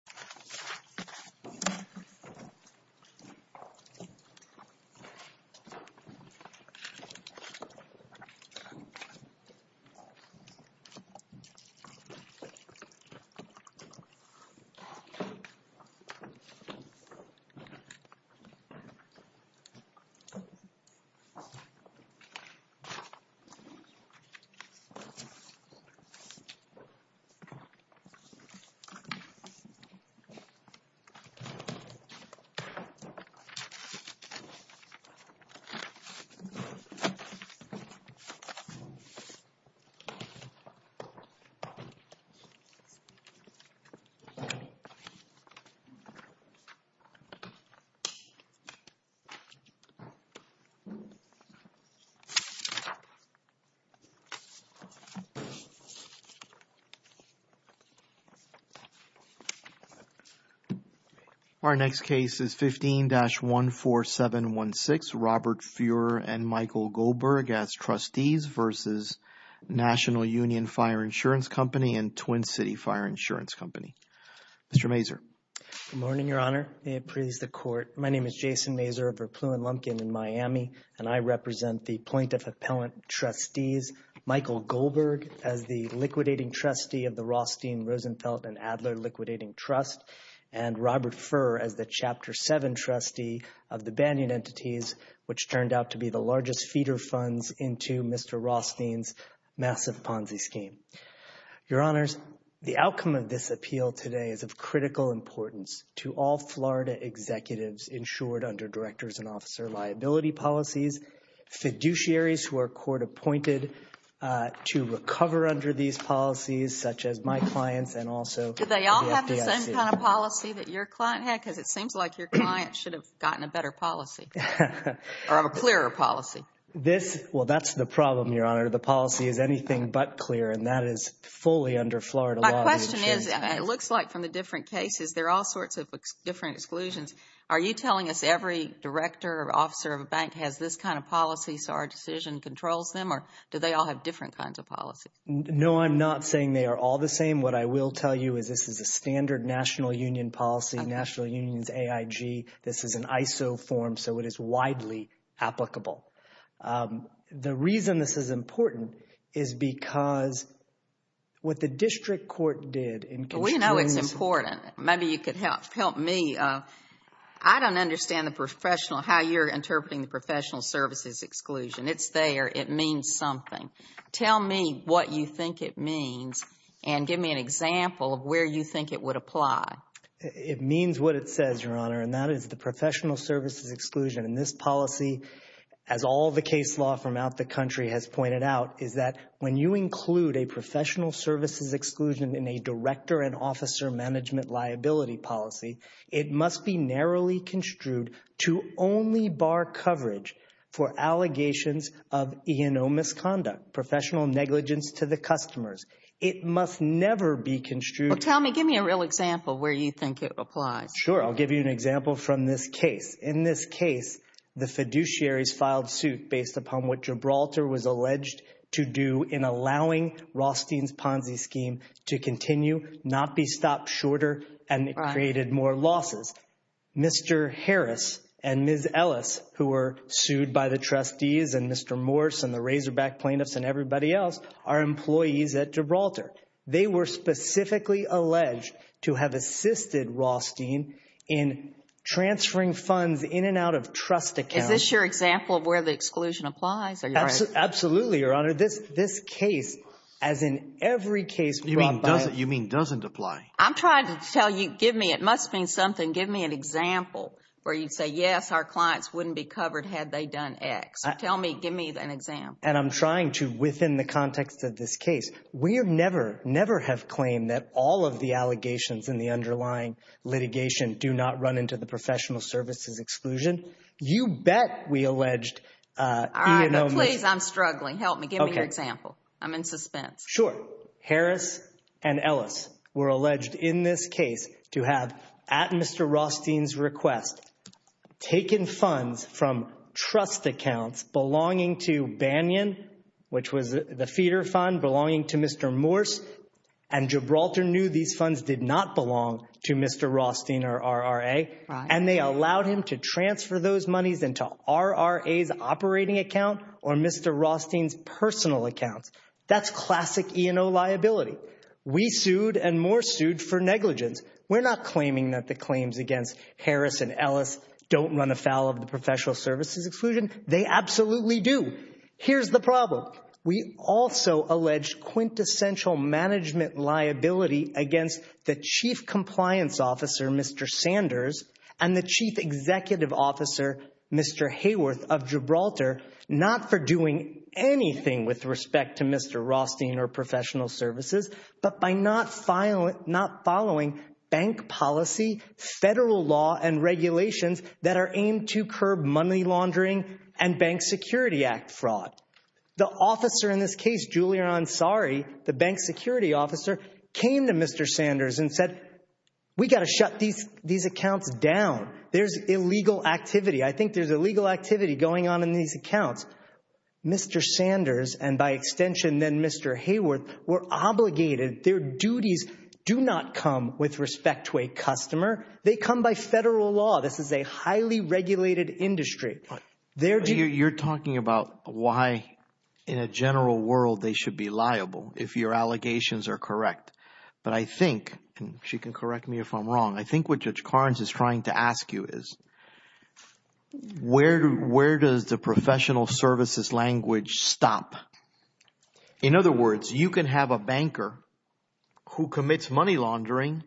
I don't know if you can hear it, but I'm trying my best to make this as quiet as possible. I'm trying my best to make this as quiet as possible. Our next case is 15-14716, Robert Fuhrer and Michael Goldberg as trustees versus National Union Fire Insurance Company and Twin City Fire Insurance Company. Mr. Mazur. Good morning, Your Honor. May it please the Court. My name is Jason Mazur of Verplew & Lumpkin in Miami, and I represent the plaintiff-appellant trustees, Michael Goldberg as the liquidating trustee of the Rothstein, Rosenfeld & Adler Liquidating Trust, and Robert Fuhrer as the Chapter 7 trustee of the Banyan Entities, which turned out to be the largest feeder funds into Mr. Rothstein's massive Ponzi scheme. Your Honors, the outcome of this appeal today is of critical importance to all Florida executives insured under Director's and Officer's Liability Policies, fiduciaries who are court-appointed to recover under these policies, such as my clients and also the FDIC. Do they all have the same kind of policy that your client had? Because it seems like your client should have gotten a better policy or a clearer policy. Well, that's the problem, Your Honor. The policy is anything but clear, and that is fully under Florida law. My question is, it looks like from the different cases, there are all sorts of different exclusions. Are you telling us every director or officer of a bank has this kind of policy so our decision controls them, or do they all have different kinds of policies? No, I'm not saying they are all the same. What I will tell you is this is a standard national union policy, National Unions AIG. This is an ISO form, so it is widely applicable. The reason this is important is because what the district court did in – Well, we know it's important. Maybe you could help me. I don't understand the professional – how you're interpreting the professional services exclusion. It's there. It means something. Tell me what you think it means and give me an example of where you think it would apply. It means what it says, Your Honor, and that is the professional services exclusion. And this policy, as all the case law from out the country has pointed out, is that when you include a professional services exclusion in a director and officer management liability policy, it must be narrowly construed to only bar coverage for allegations of E&O misconduct, professional negligence to the customers. It must never be construed – Well, tell me – give me a real example where you think it applies. Sure. I'll give you an example from this case. In this case, the fiduciaries filed suit based upon what Gibraltar was alleged to do in allowing Rothstein's Ponzi scheme to continue, not be stopped shorter, and it created more losses. Mr. Harris and Ms. Ellis, who were sued by the trustees and Mr. Morse and the Razorback plaintiffs and everybody else, are employees at Gibraltar. They were specifically alleged to have assisted Rothstein in transferring funds in and out of trust accounts. Is this your example of where the exclusion applies? Absolutely, Your Honor. This case, as in every case brought by – You mean doesn't apply? I'm trying to tell you – give me – it must mean something. Give me an example where you say, yes, our clients wouldn't be covered had they done X. Tell me – give me an example. And I'm trying to – within the context of this case, we have never, never have claimed that all of the allegations in the underlying litigation do not run into the professional services exclusion. You bet we alleged – All right, but please, I'm struggling. Help me. Give me an example. I'm in suspense. Sure. Harris and Ellis were alleged in this case to have, at Mr. Rothstein's request, taken funds from trust accounts belonging to Banyan, which was the feeder fund belonging to Mr. Morse, and Gibraltar knew these funds did not belong to Mr. Rothstein or RRA. And they allowed him to transfer those monies into RRA's operating account or Mr. Rothstein's personal account. That's classic E&O liability. We sued and Morse sued for negligence. We're not claiming that the claims against Harris and Ellis don't run afoul of the professional services exclusion. They absolutely do. Here's the problem. We also allege quintessential management liability against the chief compliance officer, Mr. Sanders, and the chief executive officer, Mr. Hayworth of Gibraltar, not for doing anything with respect to Mr. Rothstein or professional services, but by not following bank policy, federal law, and regulations that are aimed to curb money laundering and Bank Security Act fraud. The officer in this case, Julian Ansari, the bank security officer, came to Mr. Sanders and said, we've got to shut these accounts down. There's illegal activity. I think there's illegal activity going on in these accounts. Mr. Sanders, and by extension, then Mr. Hayworth, were obligated. Their duties do not come with respect to a customer. They come by federal law. This is a highly regulated industry. You're talking about why in a general world they should be liable if your allegations are correct. But I think – and she can correct me if I'm wrong. I think what Judge Carnes is trying to ask you is where does the professional services language stop? In other words, you can have a banker who commits money laundering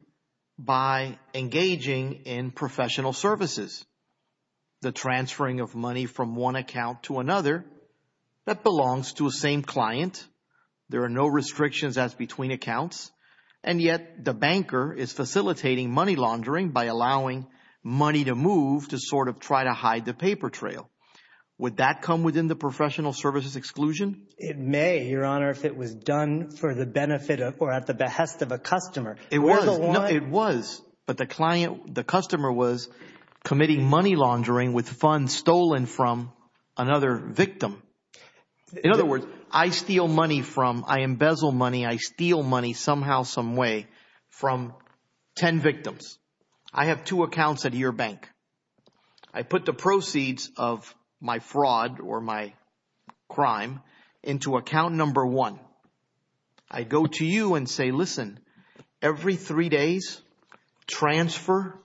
by engaging in professional services, the transferring of money from one account to another that belongs to the same client. There are no restrictions as between accounts, and yet the banker is facilitating money laundering by allowing money to move to sort of try to hide the paper trail. Would that come within the professional services exclusion? It may, Your Honor, if it was done for the benefit or at the behest of a customer. It was, but the client – the customer was committing money laundering with funds stolen from another victim. In other words, I steal money from – I embezzle money. I steal money somehow, someway from ten victims. I have two accounts at your bank. I put the proceeds of my fraud or my crime into account number one. I go to you and say, listen, every three days transfer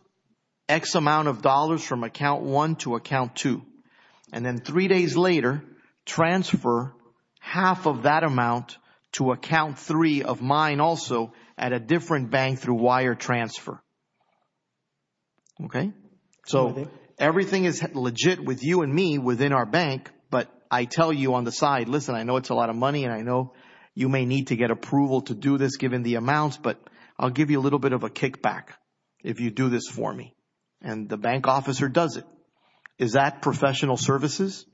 X amount of dollars from account one to account two, and then three days later transfer half of that amount to account three of mine also at a different bank through wire transfer. Okay? So everything is legit with you and me within our bank, but I tell you on the side, listen, I know it's a lot of money and I know you may need to get approval to do this given the amounts, but I'll give you a little bit of a kickback if you do this for me. And the bank officer does it. Is that professional services?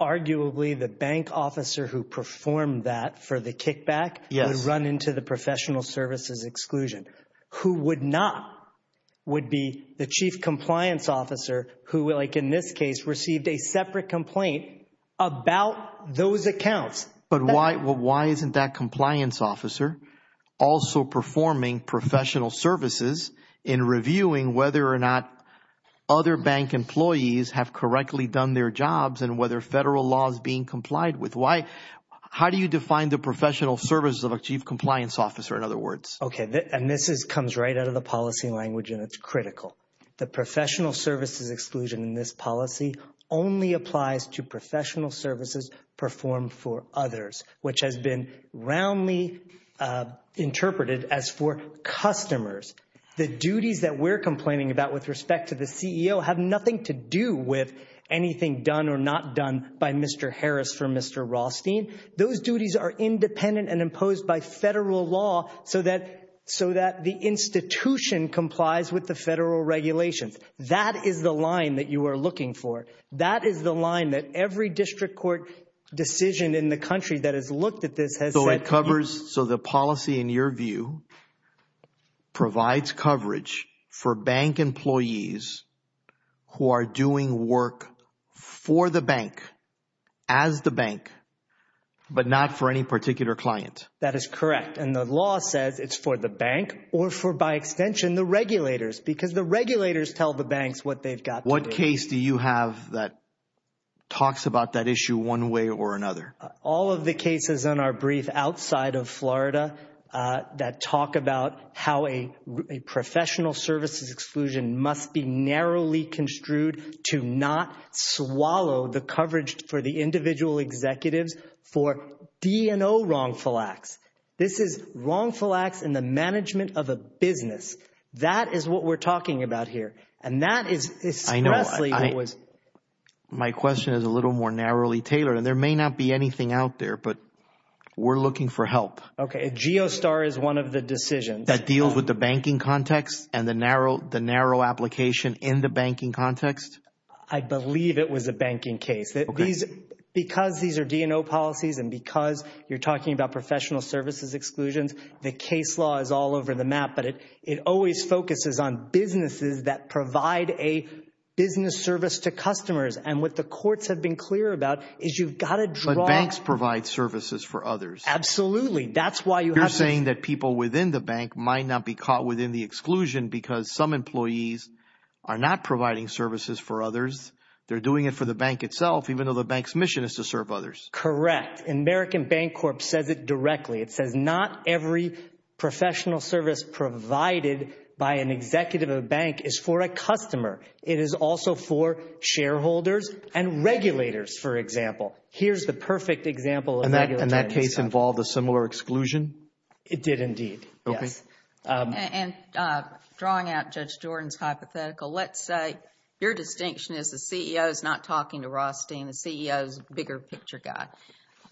Arguably the bank officer who performed that for the kickback would run into the professional services exclusion. Who would not would be the chief compliance officer who, like in this case, received a separate complaint about those accounts. But why isn't that compliance officer also performing professional services in reviewing whether or not other bank employees have correctly done their jobs and whether federal laws being complied with? How do you define the professional services of a chief compliance officer, in other words? Okay. And this comes right out of the policy language and it's critical. The professional services exclusion in this policy only applies to professional services performed for others, which has been roundly interpreted as for customers. The duties that we're complaining about with respect to the CEO have nothing to do with anything done or not done by Mr. Harris for Mr. Rothstein. Those duties are independent and imposed by federal law so that so that the institution complies with the federal regulations. That is the line that you are looking for. That is the line that every district court decision in the country that has looked at this. So it covers. So the policy, in your view, provides coverage for bank employees who are doing work for the bank as the bank, but not for any particular client. That is correct. And the law says it's for the bank or for by extension, the regulators, because the regulators tell the banks what they've got. What case do you have that talks about that issue one way or another? All of the cases on our brief outside of Florida that talk about how a professional services exclusion must be narrowly construed to not swallow the coverage for the individual executives for D&O wrongful acts. This is wrongful acts in the management of a business. That is what we're talking about here. And that is. I know it was my question is a little more narrowly tailored and there may not be anything out there, but we're looking for help. OK. Geostar is one of the decisions that deals with the banking context and the narrow, the narrow application in the banking context. I believe it was a banking case that these because these are D&O policies and because you're talking about professional services exclusions, the case law is all over the map. But it always focuses on businesses that provide a business service to customers. And what the courts have been clear about is you've got to draw. Banks provide services for others. Absolutely. That's why you're saying that people within the bank might not be caught within the exclusion because some employees are not providing services for others. They're doing it for the bank itself, even though the bank's mission is to serve others. Correct. American Bank Corp says it directly. It says not every professional service provided by an executive of a bank is for a customer. It is also for shareholders and regulators, for example. Here's the perfect example. And that case involved a similar exclusion? It did indeed. Yes. And drawing out Judge Jordan's hypothetical, let's say your distinction is the CEO is not talking to Rothstein, the CEO's bigger picture guy.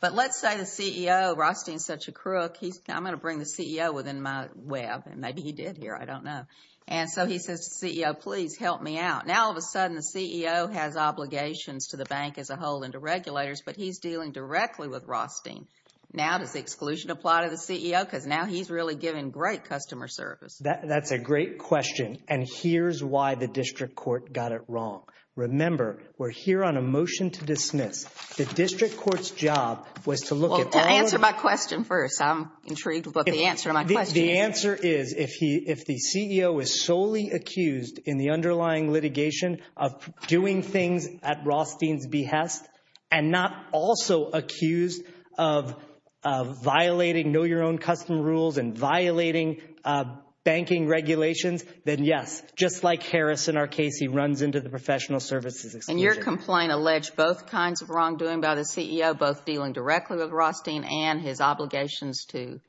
But let's say the CEO, Rothstein's such a crook, he's going to bring the CEO within my web and maybe he did here. I don't know. And so he says to CEO, please help me out. Now, all of a sudden, the CEO has obligations to the bank as a whole and to regulators, but he's dealing directly with Rothstein. Now, does the exclusion apply to the CEO? Because now he's really giving great customer service. That's a great question. And here's why the district court got it wrong. Remember, we're here on a motion to dismiss the district court's job was to look at. Answer my question first. I'm intrigued about the answer. The answer is if he if the CEO is solely accused in the underlying litigation of doing things at Rothstein's behest and not also accused of violating. Know your own custom rules and violating banking regulations. Then, yes, just like Harris in our case, he runs into the professional services. And your complaint alleged both kinds of wrongdoing by the CEO, both dealing directly with Rothstein and his obligations to.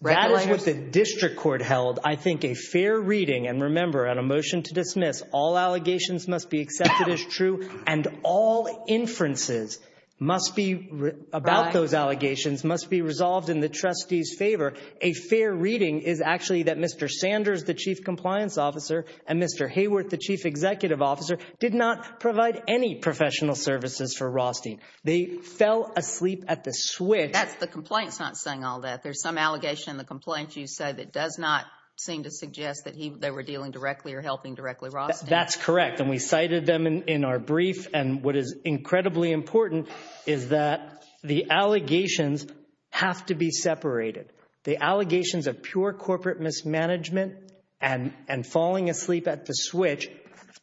That is what the district court held, I think, a fair reading. And remember, on a motion to dismiss, all allegations must be accepted as true and all inferences must be about. Those allegations must be resolved in the trustees favor. A fair reading is actually that Mr. Sanders, the chief compliance officer, and Mr. Hayworth, the chief executive officer, did not provide any professional services for Rothstein. They fell asleep at the switch. That's the complaints. Not saying all that. There's some allegation in the complaints you say that does not seem to suggest that they were dealing directly or helping directly. That's correct. And we cited them in our brief. And what is incredibly important is that the allegations have to be separated. The allegations of pure corporate mismanagement and falling asleep at the switch,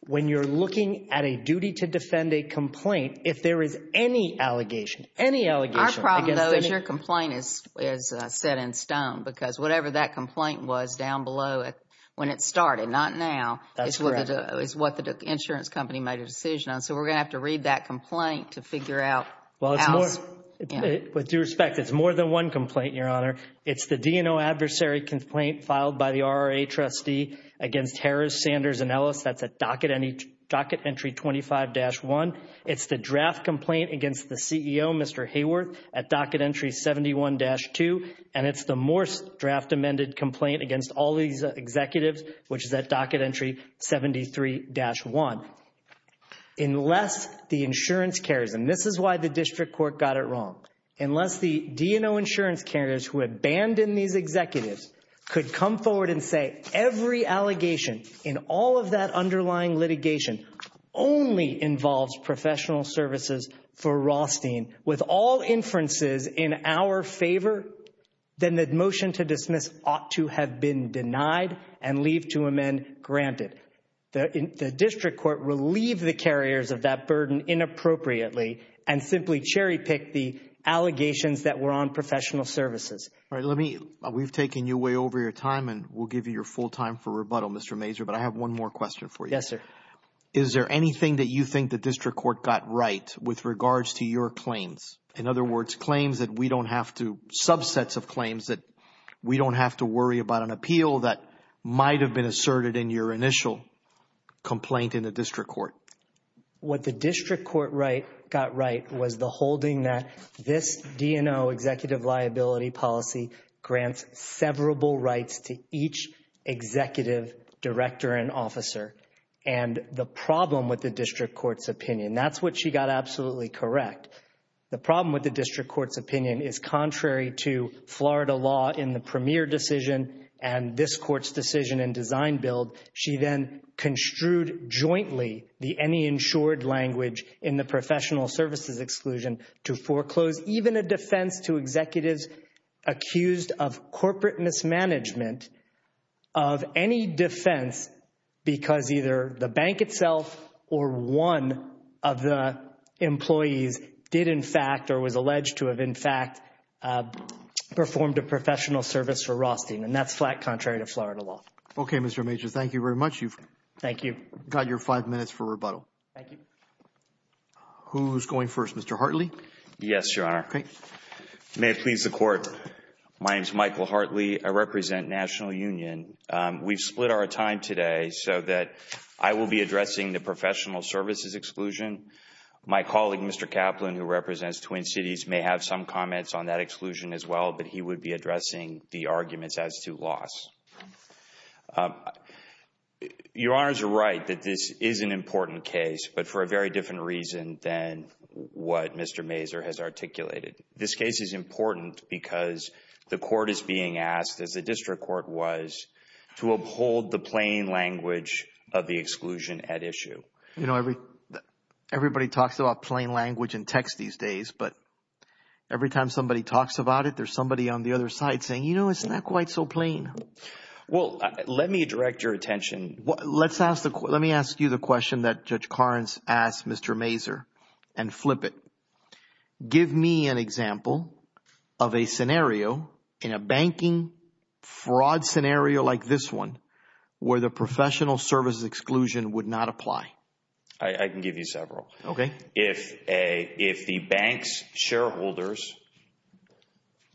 when you're looking at a duty to defend a complaint, if there is any allegation, any allegation. Our problem, though, is your complaint is set in stone because whatever that complaint was down below when it started, not now, is what the insurance company made a decision on. So we're going to have to read that complaint to figure out. With due respect, it's more than one complaint, Your Honor. It's the DNO adversary complaint filed by the RRA trustee against Harris, Sanders, and Ellis. That's at docket entry 25-1. It's the draft complaint against the CEO, Mr. Hayworth, at docket entry 71-2. And it's the Morse draft amended complaint against all these executives, which is at docket entry 73-1. Unless the insurance carriers, and this is why the district court got it wrong, unless the DNO insurance carriers who abandoned these executives could come forward and say every allegation in all of that underlying litigation only involves professional services for Rothstein with all inferences in our favor, then the motion to dismiss ought to have been denied and leave to amend granted. The district court relieved the carriers of that burden inappropriately and simply cherry-picked the allegations that were on professional services. All right. We've taken you way over your time, and we'll give you your full time for rebuttal, Mr. Major, but I have one more question for you. Yes, sir. Is there anything that you think the district court got right with regards to your claims? In other words, claims that we don't have to, subsets of claims that we don't have to worry about an appeal that might have been asserted in your initial complaint in the district court. What the district court got right was the holding that this DNO executive liability policy grants severable rights to each executive director and officer. And the problem with the district court's opinion, that's what she got absolutely correct. The problem with the district court's opinion is contrary to Florida law in the premier decision and this court's decision and design build, she then construed jointly the any insured language in the professional services exclusion to foreclose even a defense to executives accused of corporate mismanagement of any defense because either the bank itself or one of the employees did in fact or was alleged to have in fact performed a professional service for rosting. And that's flat contrary to Florida law. Okay, Mr. Major. Thank you very much. Thank you. Got your five minutes for rebuttal. Thank you. Who's going first? Mr. Hartley? Yes, Your Honor. May it please the court. My name's Michael Hartley. I represent National Union. We've split our time today so that I will be addressing the professional services exclusion. My colleague, Mr. Kaplan, who represents Twin Cities may have some comments on that exclusion as well, but he would be addressing the arguments as to loss. Your Honors are right that this is an important case, but for a very different reason than what Mr. Mazur has articulated. This case is important because the court is being asked, as the district court was, to uphold the plain language of the exclusion at issue. You know, everybody talks about plain language in text these days, but every time somebody talks about it, there's somebody on the other side saying, you know, it's not quite so plain. Well, let me direct your attention. Let me ask you the question that Judge Karnes asked Mr. Mazur and flip it. Give me an example of a scenario in a banking fraud scenario like this one where the professional services exclusion would not apply. I can give you several. Okay. If the bank's shareholders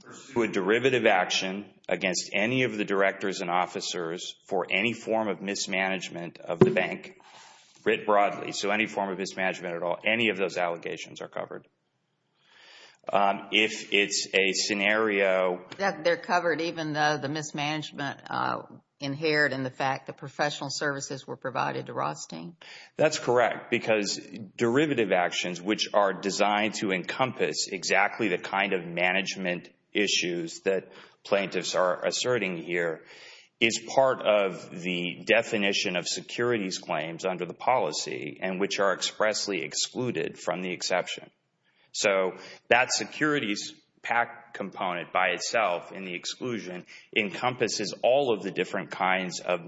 pursue a derivative action against any of the directors and officers for any form of mismanagement of the bank, writ broadly, so any form of mismanagement at all, any of those allegations are covered. If it's a scenario. They're covered even though the mismanagement inherent in the fact that professional services were provided to Rothstein. That's correct because derivative actions, which are designed to encompass exactly the kind of management issues that plaintiffs are asserting here, is part of the definition of securities claims under the policy and which are expressly excluded from the exception. So that securities PAC component by itself in the exclusion encompasses all of the different kinds of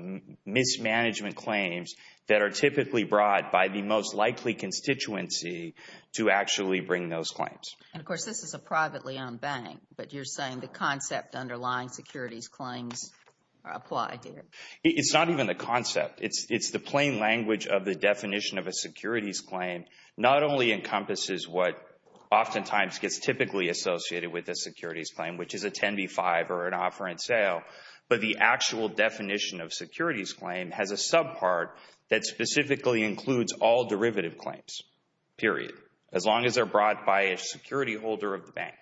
mismanagement claims that are typically brought by the most likely constituency to actually bring those claims. And of course, this is a privately owned bank. But you're saying the concept underlying securities claims are applied here. It's not even the concept. It's the plain language of the definition of a securities claim not only encompasses what oftentimes gets typically associated with a securities claim, which is a 10B5 or an offer in sale, but the actual definition of securities claim has a subpart that specifically includes all derivative claims. Period. As long as they're brought by a security holder of the bank.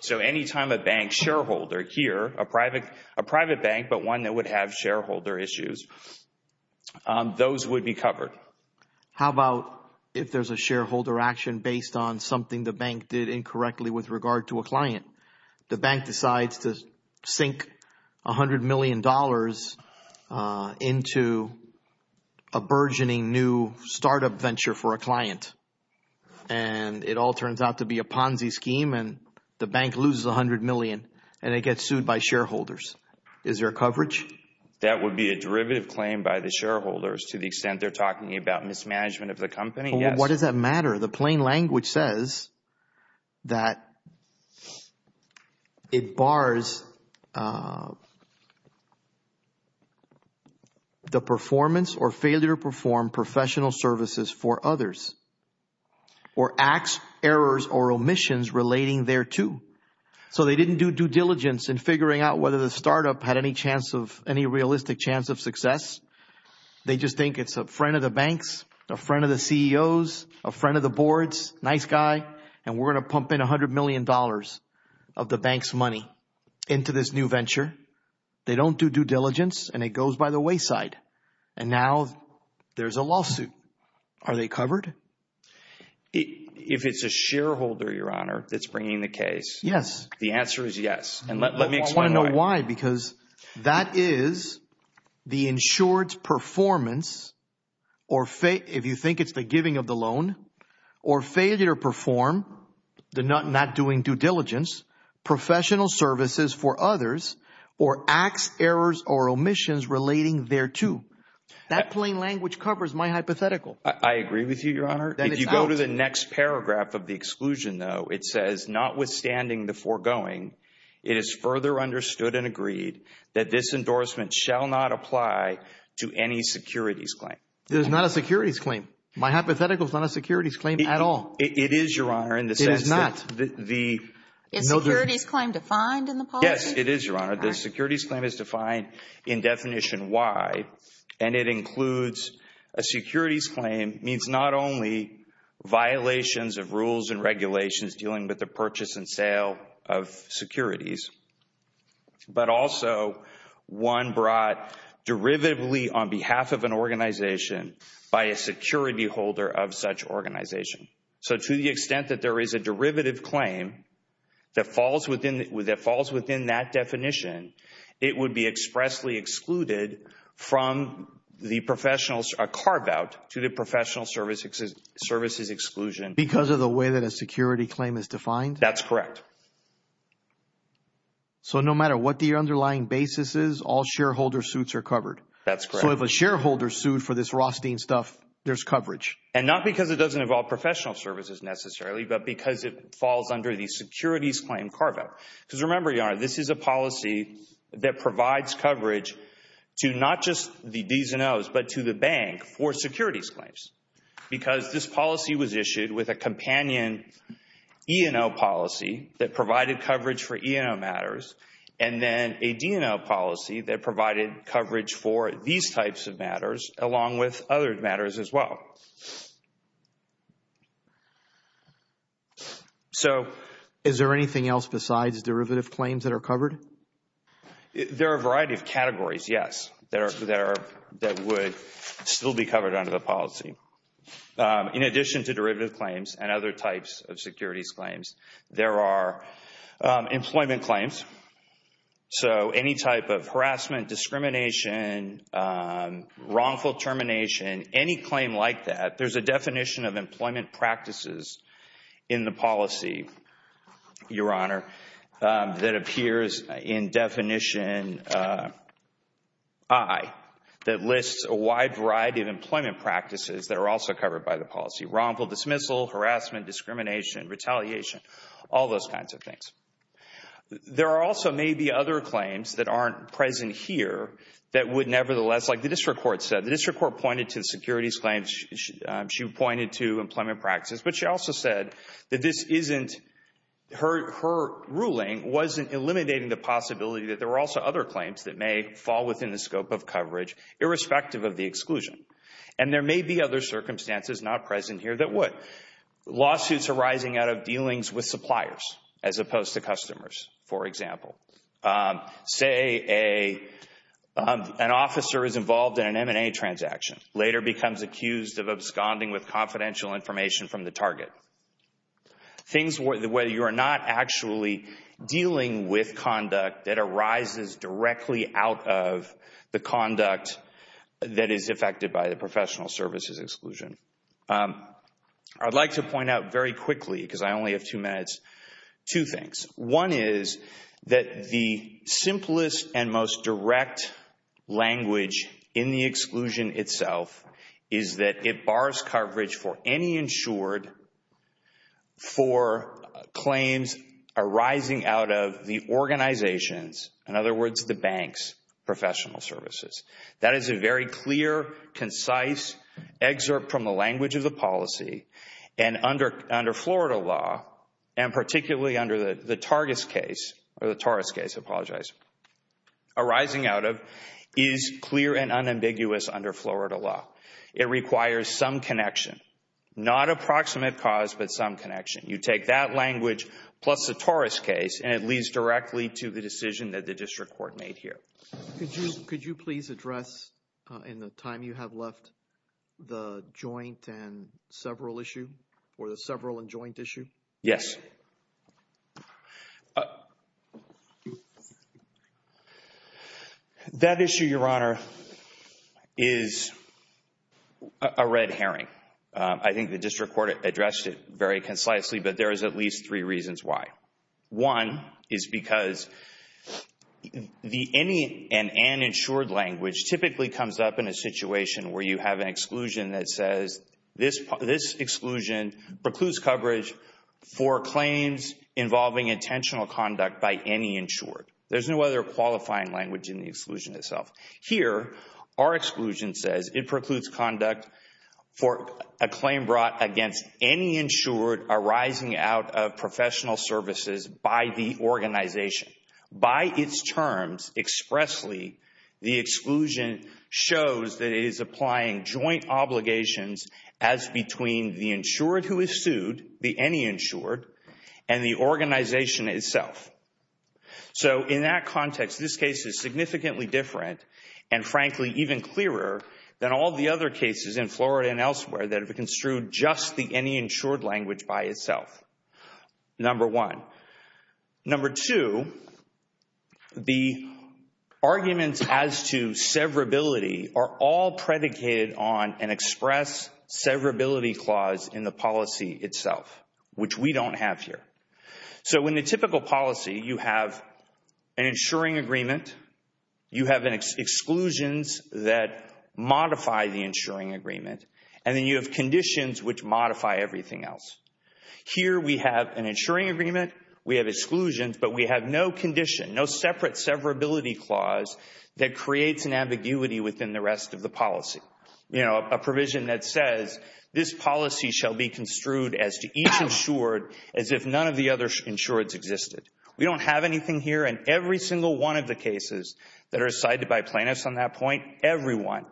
So anytime a bank shareholder here, a private bank, but one that would have shareholder issues, those would be covered. How about if there's a shareholder action based on something the bank did incorrectly with regard to a client? The bank decides to sink $100 million into a burgeoning new startup venture for a client. And it all turns out to be a Ponzi scheme and the bank loses $100 million and it gets sued by shareholders. Is there coverage? That would be a derivative claim by the shareholders to the extent they're talking about mismanagement of the company? Yes. What does that matter? The plain language says that it bars the performance or failure to perform professional services for others or acts, errors, or omissions relating thereto. So they didn't do due diligence in figuring out whether the startup had any chance of any realistic chance of success. They just think it's a friend of the banks, a friend of the CEOs, a friend of the boards, nice guy, and we're going to pump in $100 million of the bank's money into this new venture. They don't do due diligence and it goes by the wayside. And now there's a lawsuit. Are they covered? If it's a shareholder, Your Honor, that's bringing the case. Yes. The answer is yes. And let me explain why. Because that is the insured's performance or if you think it's the giving of the loan or failure to perform, not doing due diligence, professional services for others or acts, errors, or omissions relating thereto. That plain language covers my hypothetical. I agree with you, Your Honor. Then it's out. If you go to the next paragraph of the exclusion, though, it says, notwithstanding the foregoing, it is further understood and agreed that this endorsement shall not apply to any securities claim. It is not a securities claim. My hypothetical is not a securities claim at all. It is, Your Honor, in the sense that the. Is securities claim defined in the policy? Yes, it is, Your Honor. The securities claim is defined in definition Y, and it includes a securities claim means not only violations of rules and regulations dealing with the purchase and sale of securities, but also one brought derivatively on behalf of an organization by a security holder of such organization. So to the extent that there is a derivative claim that falls within that definition, it would be expressly excluded from the professional carve out to the professional services exclusion. Because of the way that a security claim is defined? That's correct. So no matter what the underlying basis is, all shareholder suits are covered. That's correct. So if a shareholder sued for this Rothstein stuff, there's coverage. And not because it doesn't involve professional services necessarily, but because it falls under the securities claim carve out. Because remember, Your Honor, this is a policy that provides coverage to not just the D's and O's, but to the bank for securities claims. Because this policy was issued with a companion E&O policy that provided coverage for E&O matters, and then a D&O policy that provided coverage for these types of matters along with other matters as well. Is there anything else besides derivative claims that are covered? There are a variety of categories, yes, that would still be covered under the policy. In addition to derivative claims and other types of securities claims, there are employment claims. So any type of harassment, discrimination, wrongful termination, any claim like that, there's a definition of employment practices in the policy, Your Honor, that appears in definition I that lists a wide variety of employment practices that are also covered by the policy. Wrongful dismissal, harassment, discrimination, retaliation, all those kinds of things. There also may be other claims that aren't present here that would nevertheless, like the district court said, the district court pointed to the securities claims. She pointed to employment practices, but she also said that this isn't, her ruling wasn't eliminating the possibility that there were also other claims that may fall within the scope of coverage irrespective of the exclusion. And there may be other circumstances not present here that would. Lawsuits arising out of dealings with suppliers as opposed to customers, for example. Say an officer is involved in an M&A transaction, later becomes accused of absconding with confidential information from the target. Things where you are not actually dealing with conduct that arises directly out of the conduct that is affected by the professional services exclusion. I'd like to point out very quickly, because I only have two minutes, two things. One is that the simplest and most direct language in the exclusion itself is that it bars coverage for any insured for claims arising out of the organizations, in other words, the banks, professional services. That is a very clear, concise excerpt from the language of the policy, and under Florida law, and particularly under the Targis case, or the Taurus case, I apologize, arising out of is clear and unambiguous under Florida law. It requires some connection, not approximate cause, but some connection. You take that language plus the Taurus case, and it leads directly to the decision that the district court made here. Could you please address, in the time you have left, the joint and several issue, or the several and joint issue? Yes. That issue, Your Honor, is a red herring. I think the district court addressed it very concisely, but there is at least three reasons why. One is because the any and uninsured language typically comes up in a situation where you have an exclusion that says this exclusion precludes coverage for claims involving intentional conduct by any insured. There is no other qualifying language in the exclusion itself. Here, our exclusion says it precludes conduct for a claim brought against any insured arising out of professional services by the organization. By its terms, expressly, the exclusion shows that it is applying joint obligations as between the insured who is sued, the any insured, and the organization itself. In that context, this case is significantly different, and frankly, even clearer than all the other cases in Florida and elsewhere that have construed just the any insured language by itself, number one. Number two, the arguments as to severability are all predicated on an express severability clause in the policy itself, which we don't have here. In the typical policy, you have an insuring agreement, you have exclusions that modify the insuring agreement, and then you have conditions which modify everything else. Here, we have an insuring agreement, we have exclusions, but we have no condition, no separate severability clause that creates an ambiguity within the rest of the policy. A provision that says, this policy shall be construed as to each insured as if none of the other insureds existed. We don't have anything here, and every single one of the cases that are cited by plaintiffs on that point, everyone,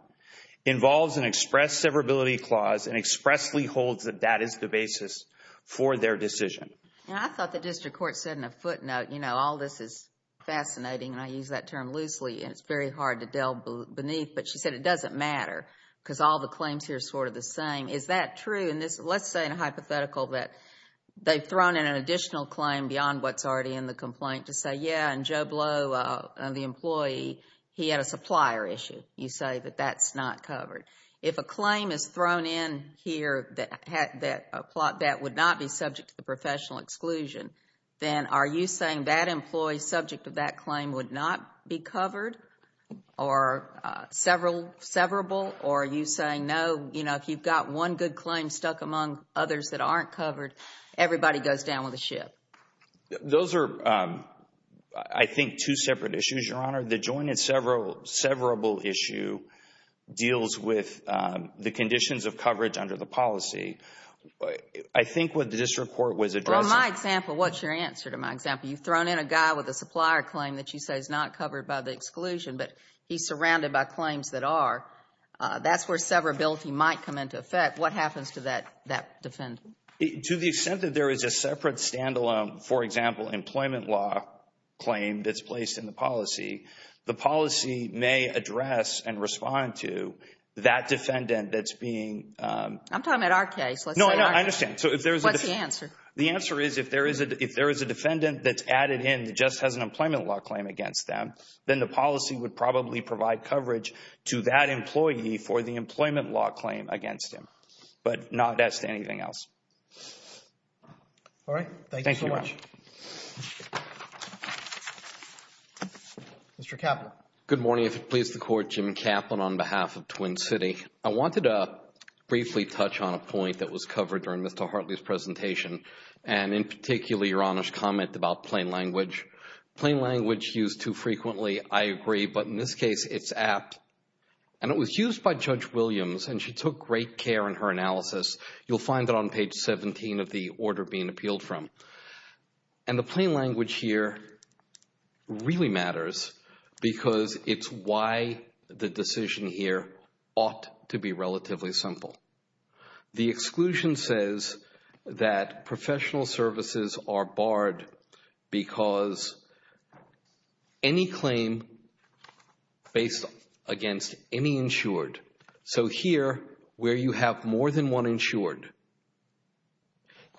involves an express severability clause and expressly holds that that is the basis for their decision. And I thought the district court said in a footnote, you know, all this is fascinating, and I use that term loosely, and it's very hard to delve beneath, but she said it doesn't matter, because all the claims here are sort of the same. Is that true? And let's say in a hypothetical that they've thrown in an additional claim beyond what's already in the complaint to say, yeah, in Joe Blow, the employee, he had a supplier issue. You say that that's not covered. If a claim is thrown in here that would not be subject to the professional exclusion, then are you saying that employee subject to that claim would not be covered or severable, or are you saying, no, you know, if you've got one good claim stuck among others that aren't covered, everybody goes down with the ship? Those are, I think, two separate issues, Your Honor. The joint and severable issue deals with the conditions of coverage under the policy. I think what the district court was addressing— Well, in my example, what's your answer to my example? You've thrown in a guy with a supplier claim that you say is not covered by the exclusion, but he's surrounded by claims that are. That's where severability might come into effect. What happens to that defendant? To the extent that there is a separate standalone, for example, employment law claim that's placed in the policy, the policy may address and respond to that defendant that's being— I'm talking about our case. No, I understand. What's the answer? The answer is if there is a defendant that's added in that just has an employment law claim against them, then the policy would probably provide coverage to that employee for the employment law claim against him, but not as to anything else. All right. Thank you, Your Honor. Thank you so much. Mr. Kaplan. Good morning. If it pleases the Court, Jim Kaplan on behalf of Twin City. I wanted to briefly touch on a point that was covered during Mr. Hartley's presentation, and in particular, Your Honor's comment about plain language. Plain language used too frequently, I agree, but in this case, it's apt. And it was used by Judge Williams, and she took great care in her analysis. You'll find it on page 17 of the order being appealed from. And the plain language here really matters because it's why the decision here ought to be relatively simple. The exclusion says that professional services are barred because any claim based against any insured. So here, where you have more than one insured,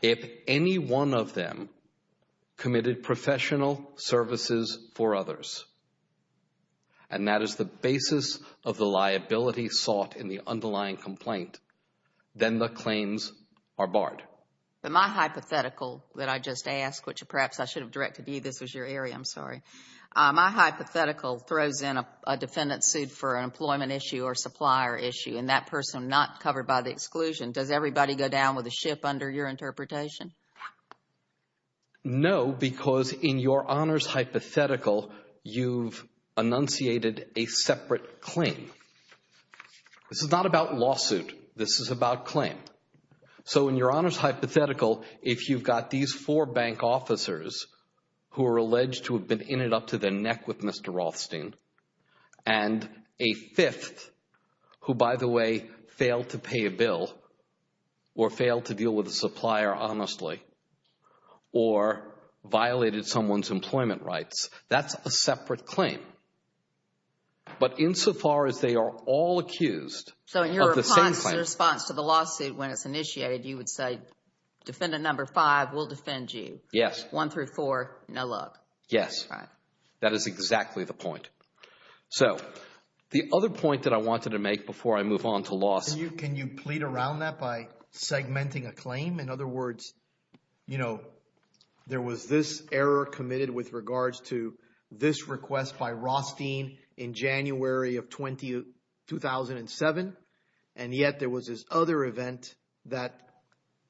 if any one of them committed professional services for others, and that is the basis of the liability sought in the underlying complaint, then the claims are barred. But my hypothetical that I just asked, which perhaps I should have directed you. This was your area. I'm sorry. My hypothetical throws in a defendant sued for an employment issue or supplier issue, and that person not covered by the exclusion. Does everybody go down with a ship under your interpretation? No, because in Your Honor's hypothetical, you've enunciated a separate claim. This is not about lawsuit. This is about claim. So in Your Honor's hypothetical, if you've got these four bank officers who are alleged to have been in and up to their neck with Mr. Rothstein, and a fifth who, by the way, failed to pay a bill or failed to deal with a supplier honestly or violated someone's employment rights, that's a separate claim. But insofar as they are all accused of the same claim. In response to the lawsuit when it's initiated, you would say defendant number five will defend you. Yes. One through four, no luck. Yes. Right. That is exactly the point. So the other point that I wanted to make before I move on to lawsuit. Can you plead around that by segmenting a claim? In other words, there was this error committed with regards to this request by Rothstein in January of 2007. And yet there was this other event that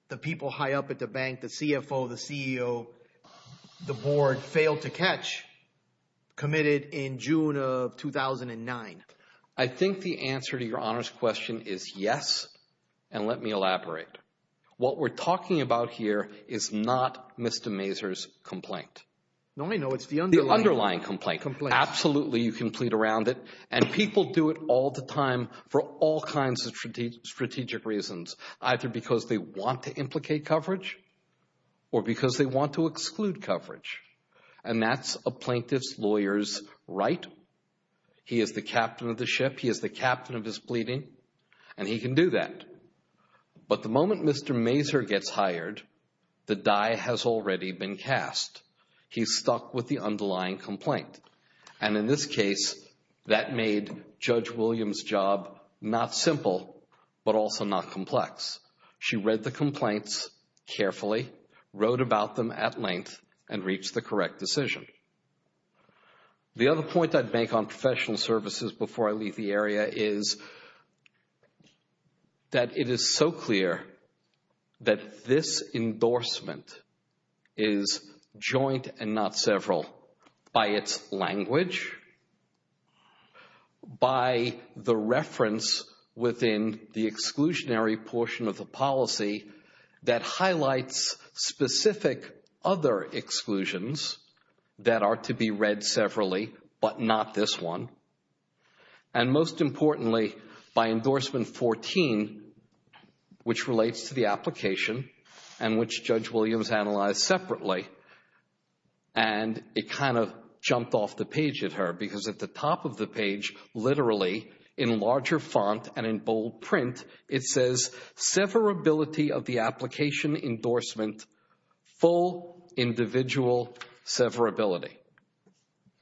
the people high up at the bank, the CFO, the CEO, the board failed to catch committed in June of 2009. I think the answer to Your Honor's question is yes. And let me elaborate. What we're talking about here is not Mr. Mazur's complaint. No, I know. It's the underlying complaint. Absolutely, you can plead around it. And people do it all the time for all kinds of strategic reasons, either because they want to implicate coverage or because they want to exclude coverage. And that's a plaintiff's lawyer's right. He is the captain of the ship. He is the captain of his pleading. And he can do that. But the moment Mr. Mazur gets hired, the die has already been cast. He's stuck with the underlying complaint. And in this case, that made Judge Williams' job not simple but also not complex. She read the complaints carefully, wrote about them at length, and reached the correct decision. The other point I'd make on professional services before I leave the area is that it is so clear that this endorsement is joint and not several by its language, by the reference within the exclusionary portion of the policy that highlights specific other exclusions that are to be read severally but not this one, And most importantly, by endorsement 14, which relates to the application and which Judge Williams analyzed separately, and it kind of jumped off the page at her because at the top of the page, literally, in larger font and in bold print, it says,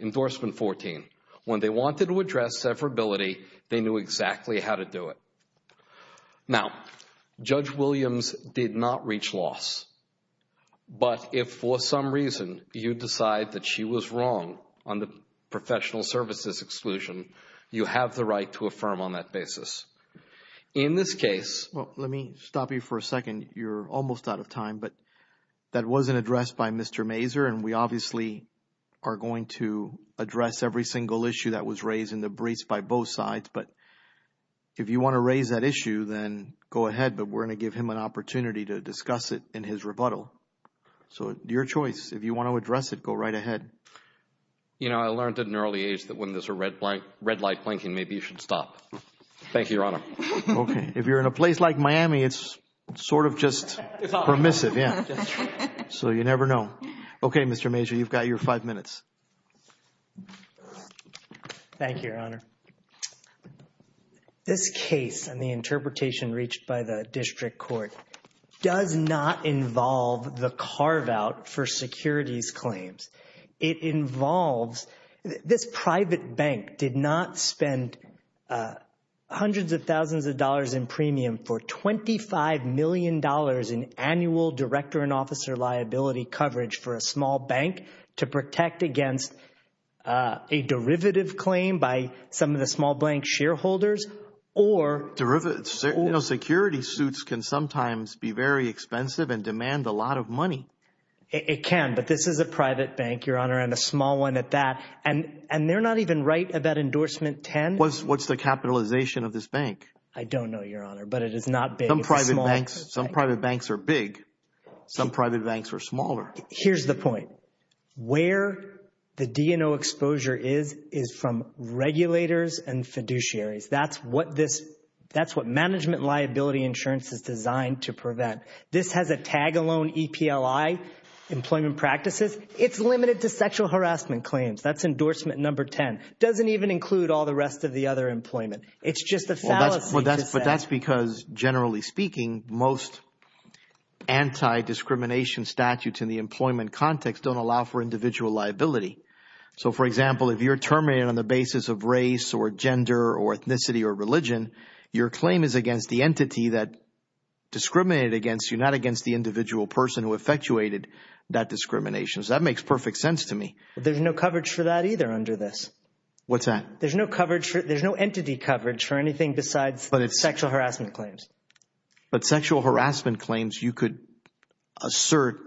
Endorsement 14. When they wanted to address severability, they knew exactly how to do it. Now, Judge Williams did not reach loss. But if for some reason you decide that she was wrong on the professional services exclusion, you have the right to affirm on that basis. In this case, Well, let me stop you for a second. You're almost out of time. But that wasn't addressed by Mr. Mazur. And we obviously are going to address every single issue that was raised in the briefs by both sides. But if you want to raise that issue, then go ahead. But we're going to give him an opportunity to discuss it in his rebuttal. So it's your choice. If you want to address it, go right ahead. You know, I learned at an early age that when there's a red light blinking, maybe you should stop. Thank you, Your Honor. If you're in a place like Miami, it's sort of just permissive. So you never know. Okay, Mr. Mazur, you've got your five minutes. Thank you, Your Honor. This case and the interpretation reached by the district court does not involve the carve out for securities claims. It involves this private bank did not spend hundreds of thousands of dollars in premium for $25 million in annual director and officer liability coverage for a small bank to protect against a derivative claim by some of the small blank shareholders or derivatives. You know, security suits can sometimes be very expensive and demand a lot of money. It can, but this is a private bank, Your Honor, and a small one at that. And they're not even right about endorsement 10. What's the capitalization of this bank? I don't know, Your Honor, but it is not big. Some private banks are big. Some private banks are smaller. Here's the point. Where the DNO exposure is is from regulators and fiduciaries. That's what management liability insurance is designed to prevent. This has a tag alone EPLI employment practices. It's limited to sexual harassment claims. That's endorsement number 10. Doesn't even include all the rest of the other employment. It's just a fallacy. But that's because generally speaking, most anti-discrimination statutes in the employment context don't allow for individual liability. So, for example, if you're terminated on the basis of race or gender or ethnicity or religion, your claim is against the entity that discriminated against you, not against the individual person who effectuated that discrimination. So that makes perfect sense to me. There's no coverage for that either under this. What's that? There's no entity coverage for anything besides sexual harassment claims. But sexual harassment claims you could assert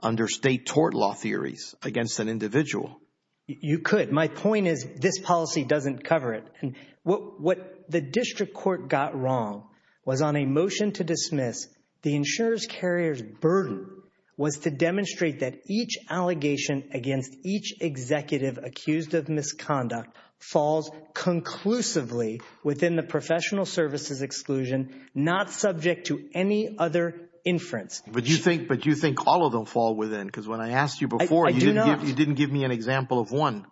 under state tort law theories against an individual. You could. My point is this policy doesn't cover it. And what the district court got wrong was on a motion to dismiss the insurer's carrier's burden was to demonstrate that each allegation against each executive accused of misconduct falls conclusively within the professional services exclusion, not subject to any other inference. But you think all of them fall within? Because when I asked you before, you didn't give me an example of one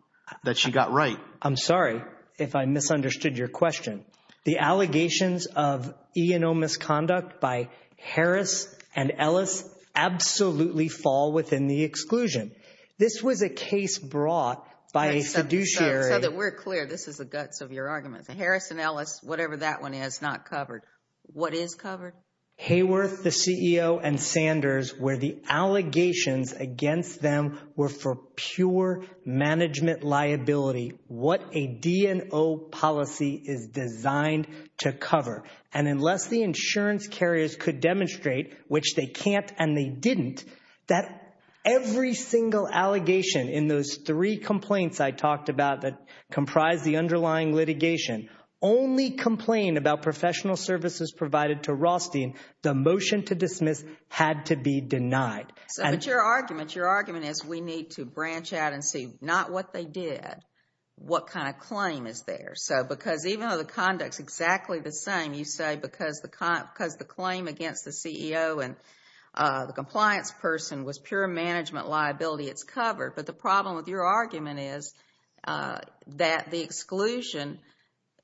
that she got right. I'm sorry if I misunderstood your question. The allegations of E&O misconduct by Harris and Ellis absolutely fall within the exclusion. This was a case brought by a fiduciary. So that we're clear, this is the guts of your argument. Harris and Ellis, whatever that one is, not covered. What is covered? Hayworth, the CEO, and Sanders, where the allegations against them were for pure management liability. What a D&O policy is designed to cover. And unless the insurance carriers could demonstrate, which they can't and they didn't, that every single allegation in those three complaints I talked about that comprise the underlying litigation only complained about professional services provided to Rothstein, the motion to dismiss had to be denied. But your argument is we need to branch out and see not what they did, what kind of claim is there. So because even though the conduct is exactly the same, you say because the claim against the CEO and the compliance person was pure management liability, it's covered. But the problem with your argument is that the exclusion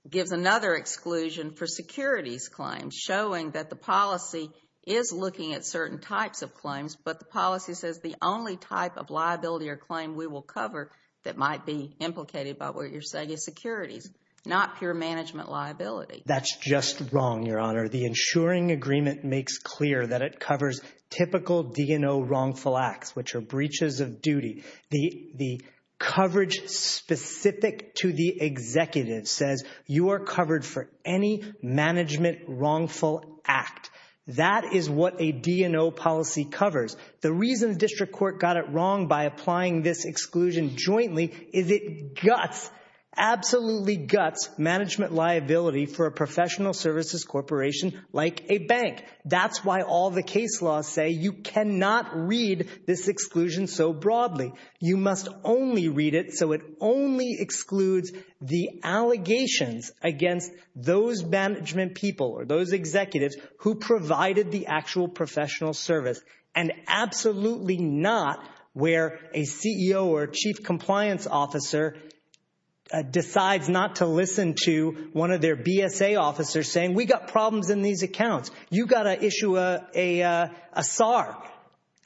gives another exclusion for securities claims, showing that the policy is looking at certain types of claims, but the policy says the only type of liability or claim we will cover that might be implicated by what you're saying is securities, not pure management liability. That's just wrong, Your Honor. The insuring agreement makes clear that it covers typical D&O wrongful acts, which are breaches of duty. The coverage specific to the executive says you are covered for any management wrongful act. That is what a D&O policy covers. The reason the district court got it wrong by applying this exclusion jointly is it guts, absolutely guts management liability for a professional services corporation like a bank. That's why all the case laws say you cannot read this exclusion so broadly. You must only read it so it only excludes the allegations against those management people or those executives who provided the actual professional service and absolutely not where a CEO or chief compliance officer decides not to listen to one of their BSA officers saying we got problems in these accounts. You got to issue a SAR,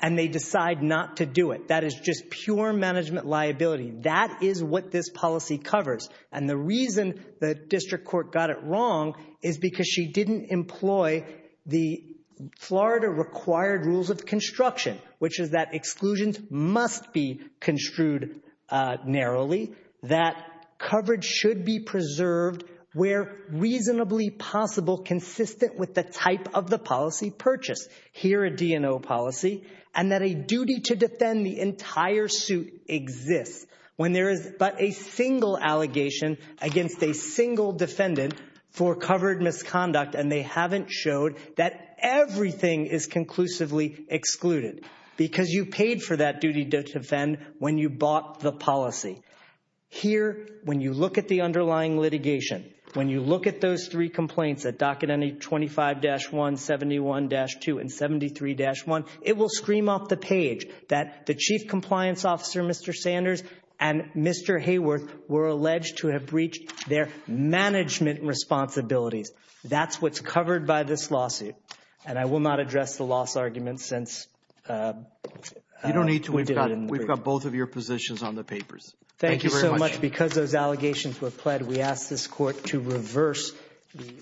and they decide not to do it. That is just pure management liability. That is what this policy covers, and the reason the district court got it wrong is because she didn't employ the Florida required rules of construction, which is that exclusions must be construed narrowly, that coverage should be preserved where reasonably possible consistent with the type of the policy purchased. Here a D&O policy and that a duty to defend the entire suit exists when there is but a single allegation against a single defendant for covered misconduct and they haven't showed that everything is conclusively excluded because you paid for that duty to defend when you bought the policy. Here when you look at the underlying litigation, when you look at those three complaints at docket 25-1, 71-2, and 73-1, it will scream off the page that the chief compliance officer, Mr. Sanders, and Mr. Hayworth were alleged to have breached their management responsibilities. That's what's covered by this lawsuit, and I will not address the loss argument since we did it. You don't need to. We've got both of your positions on the papers. Thank you very much. Thank you so much. Because those allegations were pled, we ask this court to reverse the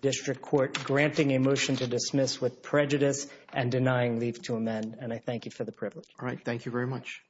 district court granting a motion to dismiss with prejudice and denying leave to amend, and I thank you for the privilege. All right. Thank you very much.